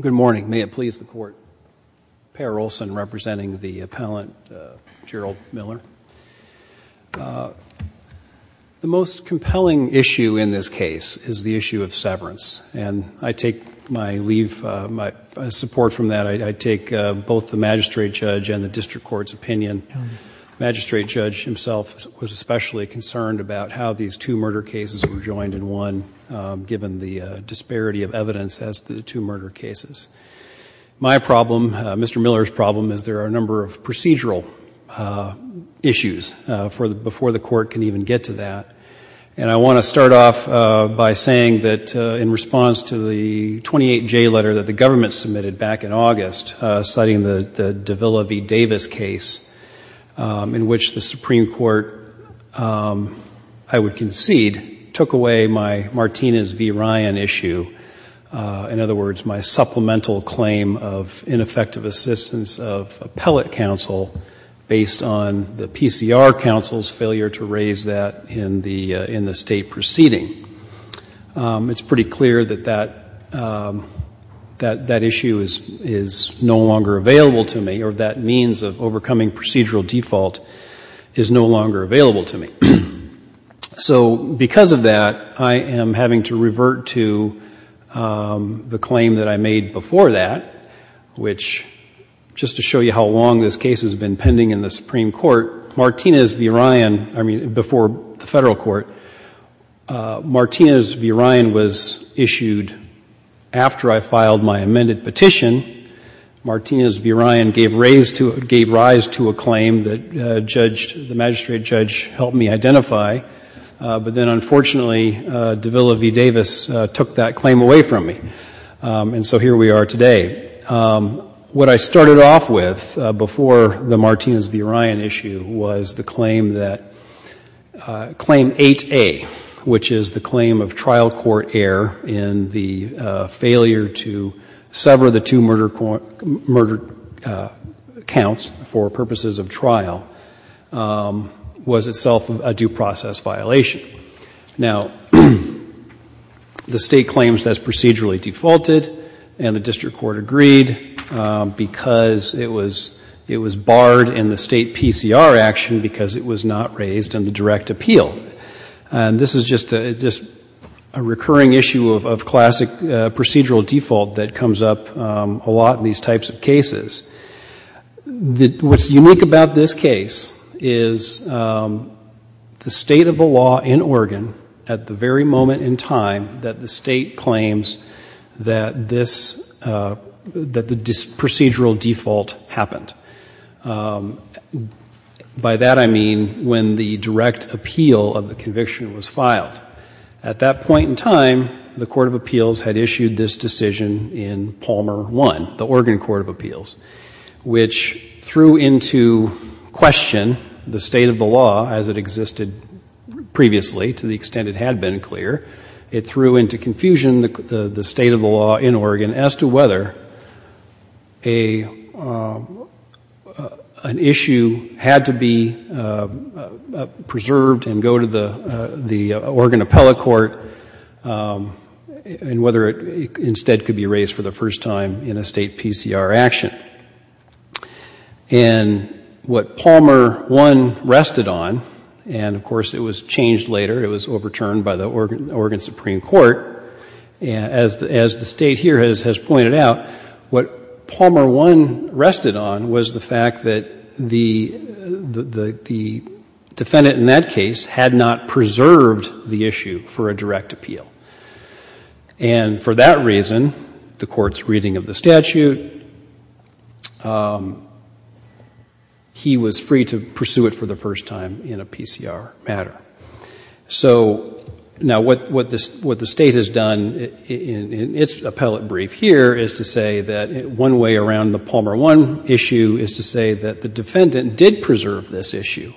Good morning. May it please the court. Perry Olson representing the appellant Gerald Miller. The most compelling issue in this case is the issue of severance and I take my leave, my support from that. I take both the magistrate judge and the district court's opinion. The magistrate judge himself was especially concerned about how these two murder cases were joined in one given the disparity of murder cases. My problem, Mr. Miller's problem, is there are a number of procedural issues before the court can even get to that. And I want to start off by saying that in response to the 28J letter that the government submitted back in August, citing the Davila v. Davis case, in which the Supreme Court, I would concede, took away my Martinez v. Davis case, my supplemental claim of ineffective assistance of appellate counsel based on the PCR counsel's failure to raise that in the State proceeding. It's pretty clear that that issue is no longer available to me or that means of overcoming procedural default is no longer available to me. So because of that, I am having to revert to the claim that I made before that, which, just to show you how long this case has been pending in the Supreme Court, Martinez v. Ryan, I mean, before the Federal Court, Martinez v. Ryan was issued after I filed my amended petition. Martinez v. Ryan gave rise to a claim that the magistrate judge helped me identify, but then unfortunately, Davila v. Davis took that claim away from me. And so here we are today. What I started off with before the Martinez v. Ryan issue was the claim that Claim 8A, which is the claim of trial court error in the failure to sever the two murder counts for purposes of trial, was itself a due process violation. Now, the State claims that it's procedurally defaulted and the district court agreed because it was barred in the State PCR action because it was not raised in the direct appeal. And this is just a recurring issue of classic procedural default that comes up a lot in these types of cases. What's unique about this case is the state of the law in Oregon at the very moment in time that the State claims that this, that the procedural default happened. By that, I mean when the direct appeal of the conviction was filed. At that point in time, the Court of Appeals had issued this decision in Palmer 1, the Oregon Court of Appeals, which threw into question the state of the law as it existed previously, to the extent it had been clear. It threw into confusion the State of the law in Oregon as to whether an issue had to be preserved and go to the Oregon Appellate Court and whether it instead could be raised for the first time in a State PCR action. And what Palmer 1 rested on, and of course it was changed later, it was overturned by the Oregon Supreme Court, as the State here has pointed out, what Palmer 1 rested on was the fact that the defendant in that case had not preserved the issue for a direct appeal. And for that reason, the Court's reading of the statute, he was free to pursue it for the first time in a PCR matter. So now what the State has done in its appellate brief here is to say that one way around the Palmer 1 issue is to say that the defendant did preserve this issue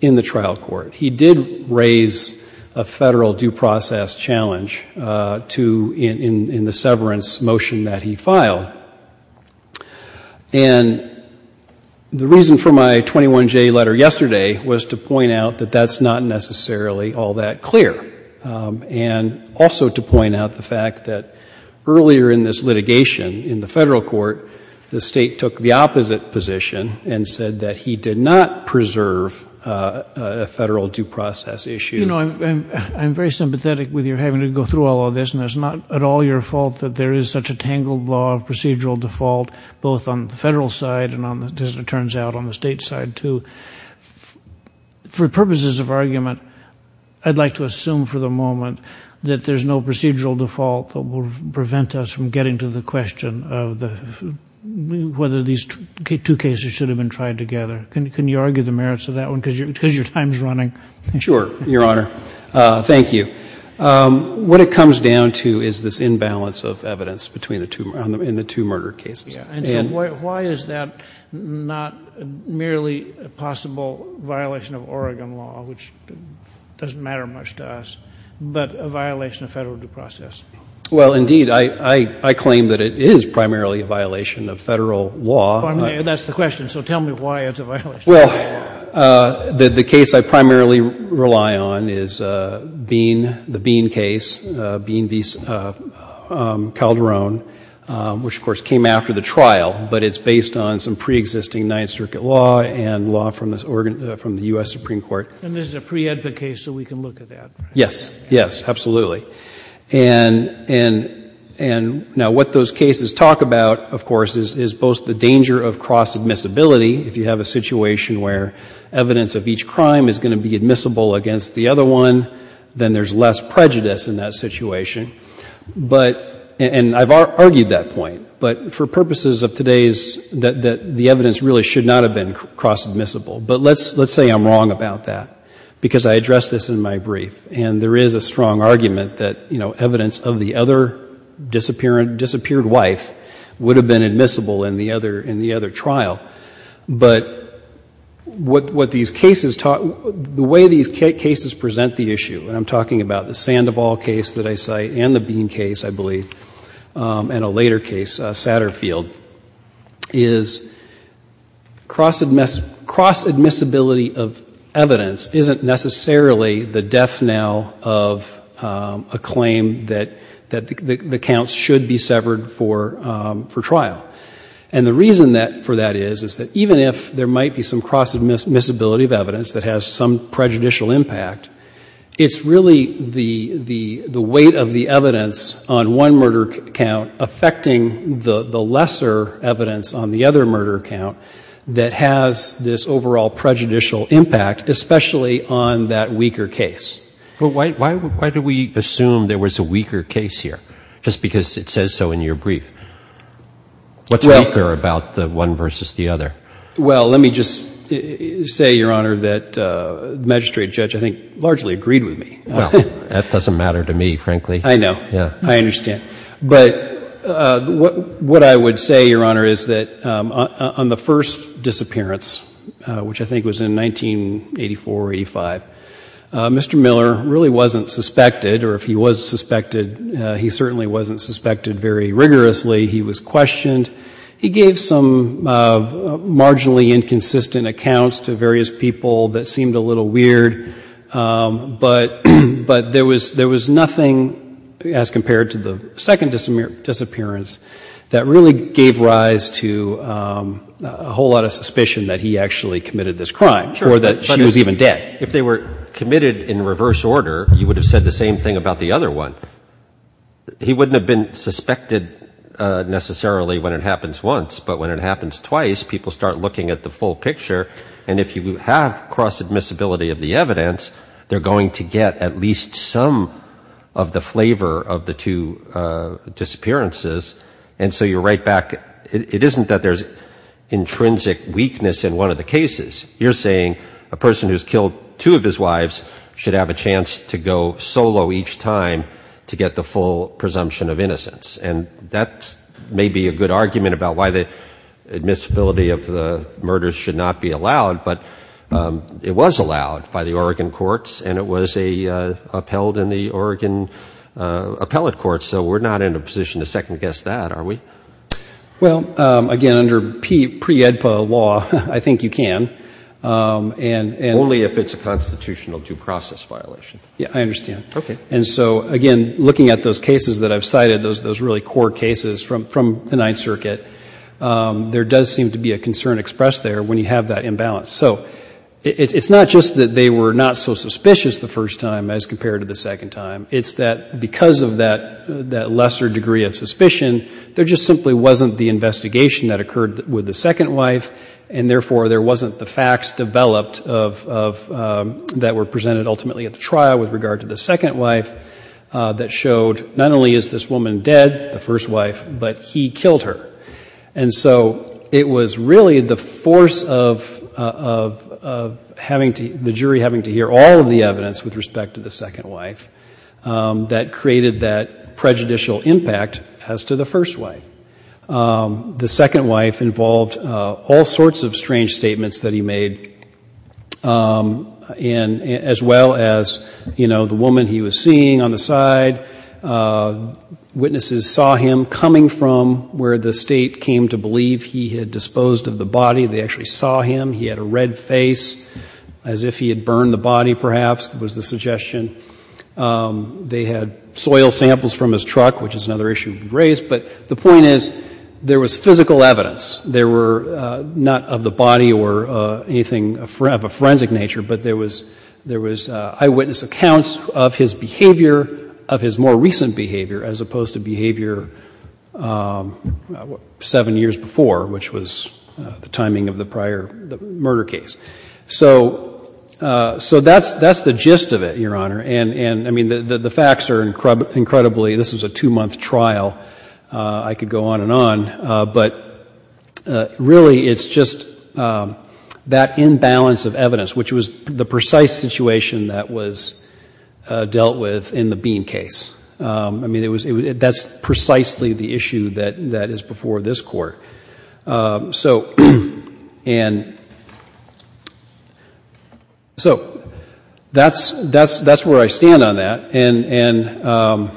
in the trial court. He did raise a Federal due process challenge in the severance motion that he filed. And the reason for my 21J letter yesterday was to point out that that's not necessarily all that clear. And also to point out the fact that earlier in this litigation in the Federal Court, the State took the opposite position and said that he did not preserve a Federal due process issue. You know, I'm very sympathetic with your having to go through all of this, and it's not at all your fault that there is such a tangled law of procedural default, both on the Federal side and, as it turns out, on the State side, too. For purposes of argument, I'd like to assume for the moment that there's no procedural default that will prevent us from getting to the question of whether these two cases should have been tried together. Can you argue the merits of that one? Because your time's running. Sure, Your Honor. Thank you. What it comes down to is this imbalance of evidence between the two murder cases. And so why is that not merely a possible violation of Oregon law, which doesn't matter much to us, but a violation of Federal due process? Well, indeed, I claim that it is primarily a violation of Federal law. That's the question. So tell me why it's a violation of Federal law. Well, the case I primarily rely on is the Bean case, Bean v. Calderon, which, of course, came after the trial, but it's based on some preexisting Ninth Circuit law and law from the U.S. Supreme Court. And this is a pre-EDPA case, so we can look at that. Yes. Yes, absolutely. And now, what those cases talk about, of course, is both the danger of cross-admissibility. If you have a situation where evidence of each crime is going to be admissible against the other one, then there's less prejudice in that situation. But, and I've argued that point, but for purposes of today's, that the evidence really should not have been cross-admissible. But let's say I'm wrong about that, because I addressed this in my brief, and there is a strong argument that, you know, evidence of the other disappearing, disappeared wife would have been admissible in the other, in the other trial. But what these cases talk, the way these cases present the issue, and I'm talking about the Sandoval case that I cite and the Bean case, I believe, and a later case, Satterfield, is cross-admissibility of evidence isn't necessarily the death knell of a claim that the counts should be severed for trial. And the reason that, for that is, is that even if there might be some cross-admissibility of evidence that has some prejudicial impact, it's really the weight of the evidence on one murder count affecting the lesser evidence on the other murder count that has this overall prejudicial impact, especially on that weaker case. But why do we assume there was a weaker case here, just because it says so in your brief? What's weaker about the one versus the other? Well, let me just say, Your Honor, that the magistrate judge, I think, largely agreed with me. Well, that doesn't matter to me, frankly. I know. Yeah. I understand. But what I would say, Your Honor, is that on the first disappearance, which I think was in 1984 or 85, Mr. Miller really wasn't suspected, or if he was suspected, he certainly wasn't suspected very rigorously. He was questioned. He gave some marginally inconsistent accounts to various people that seemed a little weird, but there was nothing as compared to the second disappearance that really gave rise to a whole lot of suspicion that he actually committed this crime, or that she was even dead. Sure. But if they were committed in reverse order, you would have said the same thing about the other one. He wouldn't have been suspected necessarily when it happens once, but when it happens twice, people start looking at the full picture, and if you have cross-admissibility of the evidence, they're going to get at least some of the flavor of the two disappearances. And so you're right back, it isn't that there's intrinsic weakness in one of the cases. You're saying a person who's killed two of his wives should have a chance to go solo each time to get the full presumption of innocence, and that may be a good argument about why the admissibility of the murders should not be allowed, but it was allowed by the Oregon courts, and it was upheld in the Oregon appellate courts, so we're not in a position to second guess that, are we? Well, again, under pre-EDPA law, I think you can. Only if it's a constitutional due process violation. Yeah, I understand. Okay. And so, again, looking at those cases that I've cited, those really core cases from the Ninth Circuit, there does seem to be a concern expressed there when you have that imbalance. So it's not just that they were not so suspicious the first time as compared to the second time. It's that because of that lesser degree of suspicion, there just simply wasn't the investigation that occurred with the second wife, and therefore there wasn't the facts developed that were presented ultimately at the trial with regard to the second wife that showed not only is this woman dead, the first wife, but he killed her. And so it was really the force of the jury having to hear all of the evidence with respect to the second wife that created that prejudicial impact as to the first wife. The second wife involved all sorts of strange statements that he made, as well as, you know, the woman he was seeing on the side, witnesses saw him coming from where the State came to believe he had disposed of the body, they actually saw him, he had a red face as if he had burned the body, perhaps, was the suggestion. They had soil samples from his truck, which is another issue to be raised. But the point is, there was physical evidence. There were not of the body or anything of a forensic nature, but there was eyewitness accounts of his behavior, of his more recent behavior, as opposed to behavior seven years before, which was the timing of the prior murder case. So that's the gist of it, Your Honor. And, I mean, the facts are incredibly, this was a two-month trial. I could go on and on, but really it's just that imbalance of evidence, which was the precise situation that was dealt with in the Bean case. I mean, that's precisely the issue that is before this Court. So, and, so, that's where I stand on that. And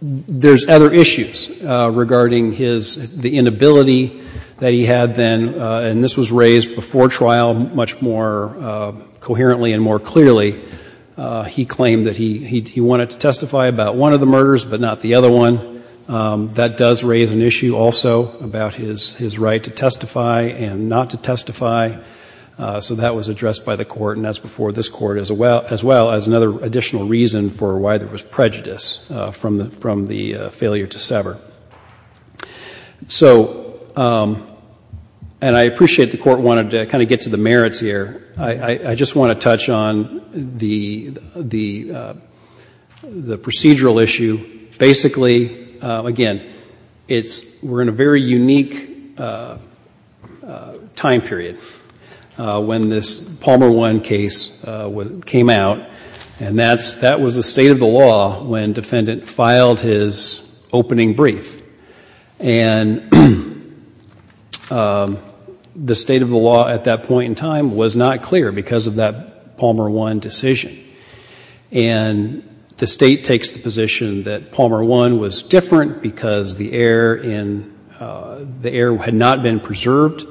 there's other issues regarding his, the inability that he had then, and this was raised before trial much more coherently and more clearly, he claimed that he wanted to testify about one of the murders, but not the other one. That does raise an issue also about his right to testify and not to testify. So that was addressed by the Court, and that's before this Court as well, as another additional reason for why there was prejudice from the failure to sever. So, and I appreciate the Court wanted to kind of get to the merits here. I just want to touch on the procedural issue. Basically, again, it's, we're in a very unique time period when this Palmer One case came out, and that's, that was the state of the law when defendant filed his opening brief. And the state of the law at that point in time was not clear because of that Palmer One decision. And the state takes the position that Palmer One was different because the error in, the error had not been preserved.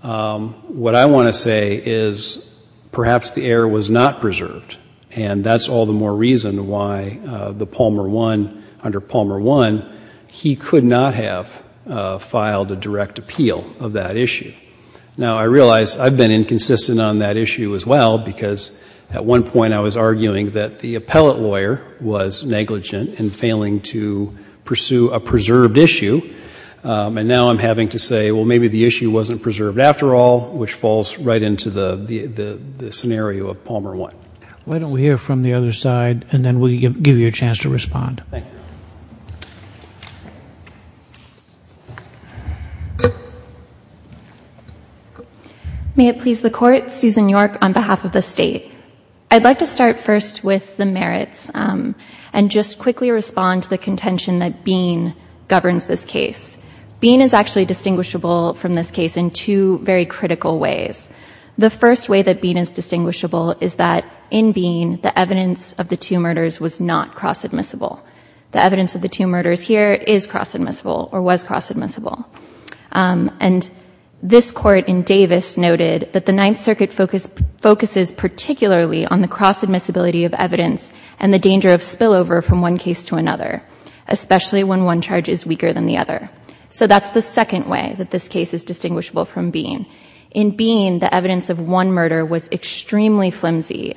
What I want to say is perhaps the error was not preserved, and that's all the more reason why the Palmer One, under Palmer One, he could not have filed a direct appeal of that issue. Now, I realize I've been inconsistent on that issue as well because at one point I was arguing that the appellate lawyer was negligent in failing to pursue a preserved issue, and now I'm having to say, well, maybe the issue wasn't preserved after all, which falls right into the scenario of Palmer One. Why don't we hear from the other side, and then we'll give you a chance to respond. Thank you. May it please the Court, Susan York on behalf of the state. I'd like to start first with the merits and just quickly respond to the contention that Bean governs this case. Bean is actually distinguishable from this case in two very critical ways. The first way that Bean is distinguishable is that in Bean, the evidence of the two murders was not cross-admissible. The evidence of the two murders here is cross-admissible or was cross-admissible. And this Court in Davis noted that the Ninth Circuit focuses particularly on the cross-admissibility of evidence and the danger of spillover from one case to another, especially when one charge is weaker than the other. So that's the second way that this case is distinguishable from Bean. In Bean, the evidence of one murder was extremely flimsy.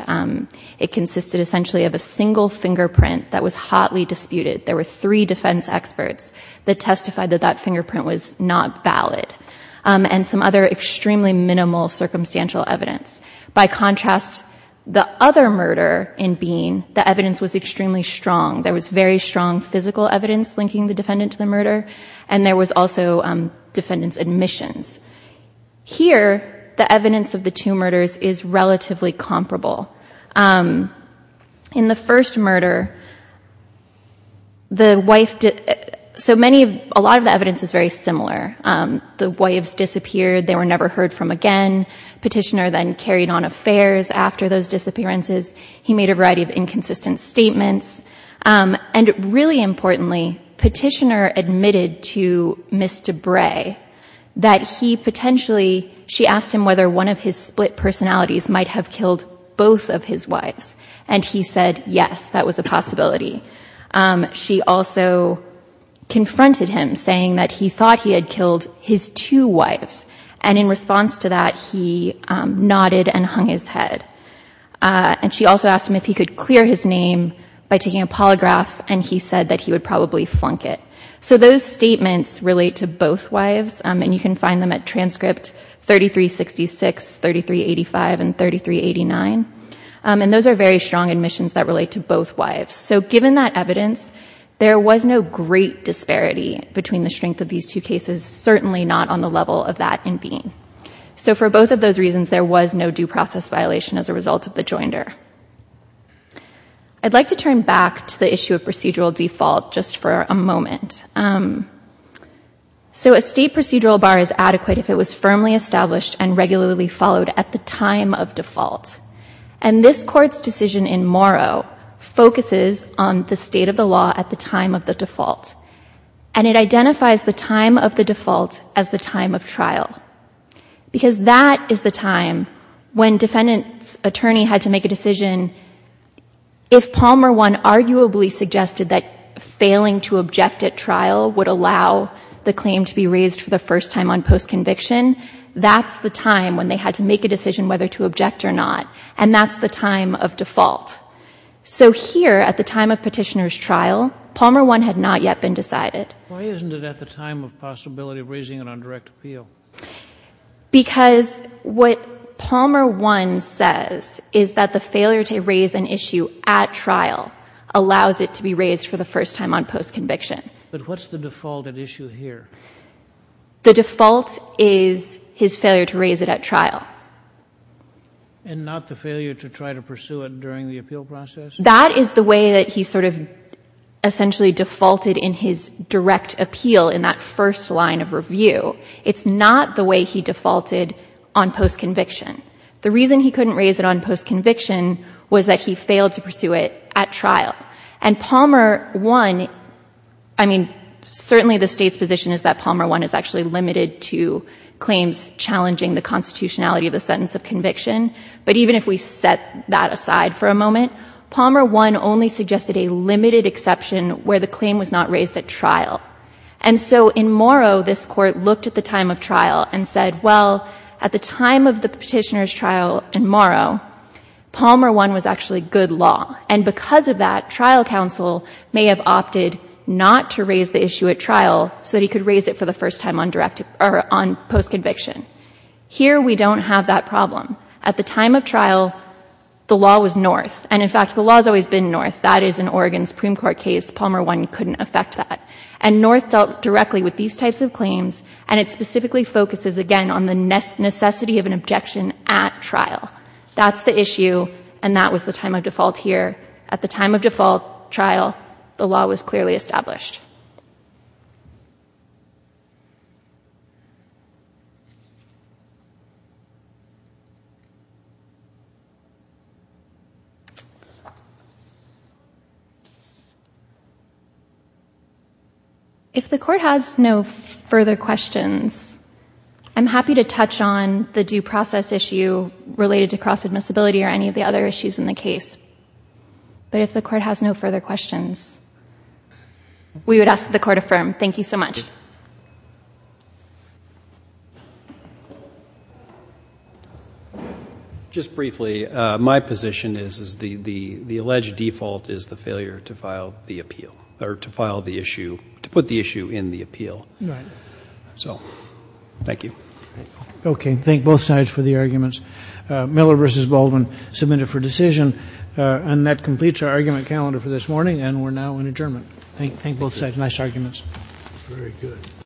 It consisted essentially of a single fingerprint that was hotly disputed. There were three defense experts that testified that that fingerprint was not valid, and some other extremely minimal circumstantial evidence. By contrast, the other murder in Bean, the evidence was extremely strong. There was very strong physical evidence linking the defendant to the murder, and there was also defendant's admissions. Here the evidence of the two murders is relatively comparable. In the first murder, the wife—so many of—a lot of the evidence is very similar. The wives disappeared. They were never heard from again. Petitioner then carried on affairs after those disappearances. He made a variety of inconsistent statements. And really importantly, Petitioner admitted to Ms. DeBray that he potentially—she asked him whether one of his split personalities might have killed both of his wives, and he said yes, that was a possibility. She also confronted him, saying that he thought he had killed his two wives, and in response to that, he nodded and hung his head. And she also asked him if he could clear his name by taking a polygraph, and he said that he would probably flunk it. So those statements relate to both wives, and you can find them at transcript 3366, 3385, and 3389. And those are very strong admissions that relate to both wives. So given that evidence, there was no great disparity between the strength of these two cases, certainly not on the level of that in Bean. So for both of those reasons, there was no due process violation as a result of the joinder. I'd like to turn back to the issue of procedural default just for a moment. So a state procedural bar is adequate if it was firmly established and regularly followed at the time of default, and this Court's decision in Morrow focuses on the state of the law at the time of the default, and it identifies the time of the default as the time of trial. Because that is the time when defendant's attorney had to make a decision. If Palmer I arguably suggested that failing to object at trial would allow the claim to be raised for the first time on post-conviction, that's the time when they had to make a decision whether to object or not, and that's the time of default. So here, at the time of petitioner's trial, Palmer I had not yet been decided. Why isn't it at the time of possibility of raising it on direct appeal? Because what Palmer I says is that the failure to raise an issue at trial allows it to be raised for the first time on post-conviction. But what's the default at issue here? The default is his failure to raise it at trial. And not the failure to try to pursue it during the appeal process? That is the way that he sort of essentially defaulted in his direct appeal in that first line of review. It's not the way he defaulted on post-conviction. The reason he couldn't raise it on post-conviction was that he failed to pursue it at trial. And Palmer I, I mean, certainly the state's position is that Palmer I is actually limited to claims challenging the constitutionality of the sentence of conviction, but even if we set that aside for a moment, Palmer I only suggested a limited exception where the claim was not raised at trial. And so in Morrow, this court looked at the time of trial and said, well, at the time of the petitioner's trial in Morrow, Palmer I was actually good law. And because of that, trial counsel may have opted not to raise the issue at trial so that he could raise it for the first time on post-conviction. Here, we don't have that problem. At the time of trial, the law was North. And in fact, the law has always been North. That is, in Oregon's Supreme Court case, Palmer I couldn't affect that. And North dealt directly with these types of claims, and it specifically focuses, again, on the necessity of an objection at trial. That's the issue, and that was the time of default here. At the time of default trial, the law was clearly established. If the court has no further questions, I'm happy to touch on the due process issue related to cross-admissibility or any of the other issues in the case. But if the court has no further questions, we would ask that the court affirm. Thank you so much. Just briefly, my position is the alleged default is the failure to file the appeal or to file the issue, to put the issue in the appeal. So, thank you. Okay, thank both sides for the arguments. Miller v. Baldwin submitted for decision. And that completes our argument calendar for this morning, and we're now in adjournment. Thank both sides. Nice arguments. Very good.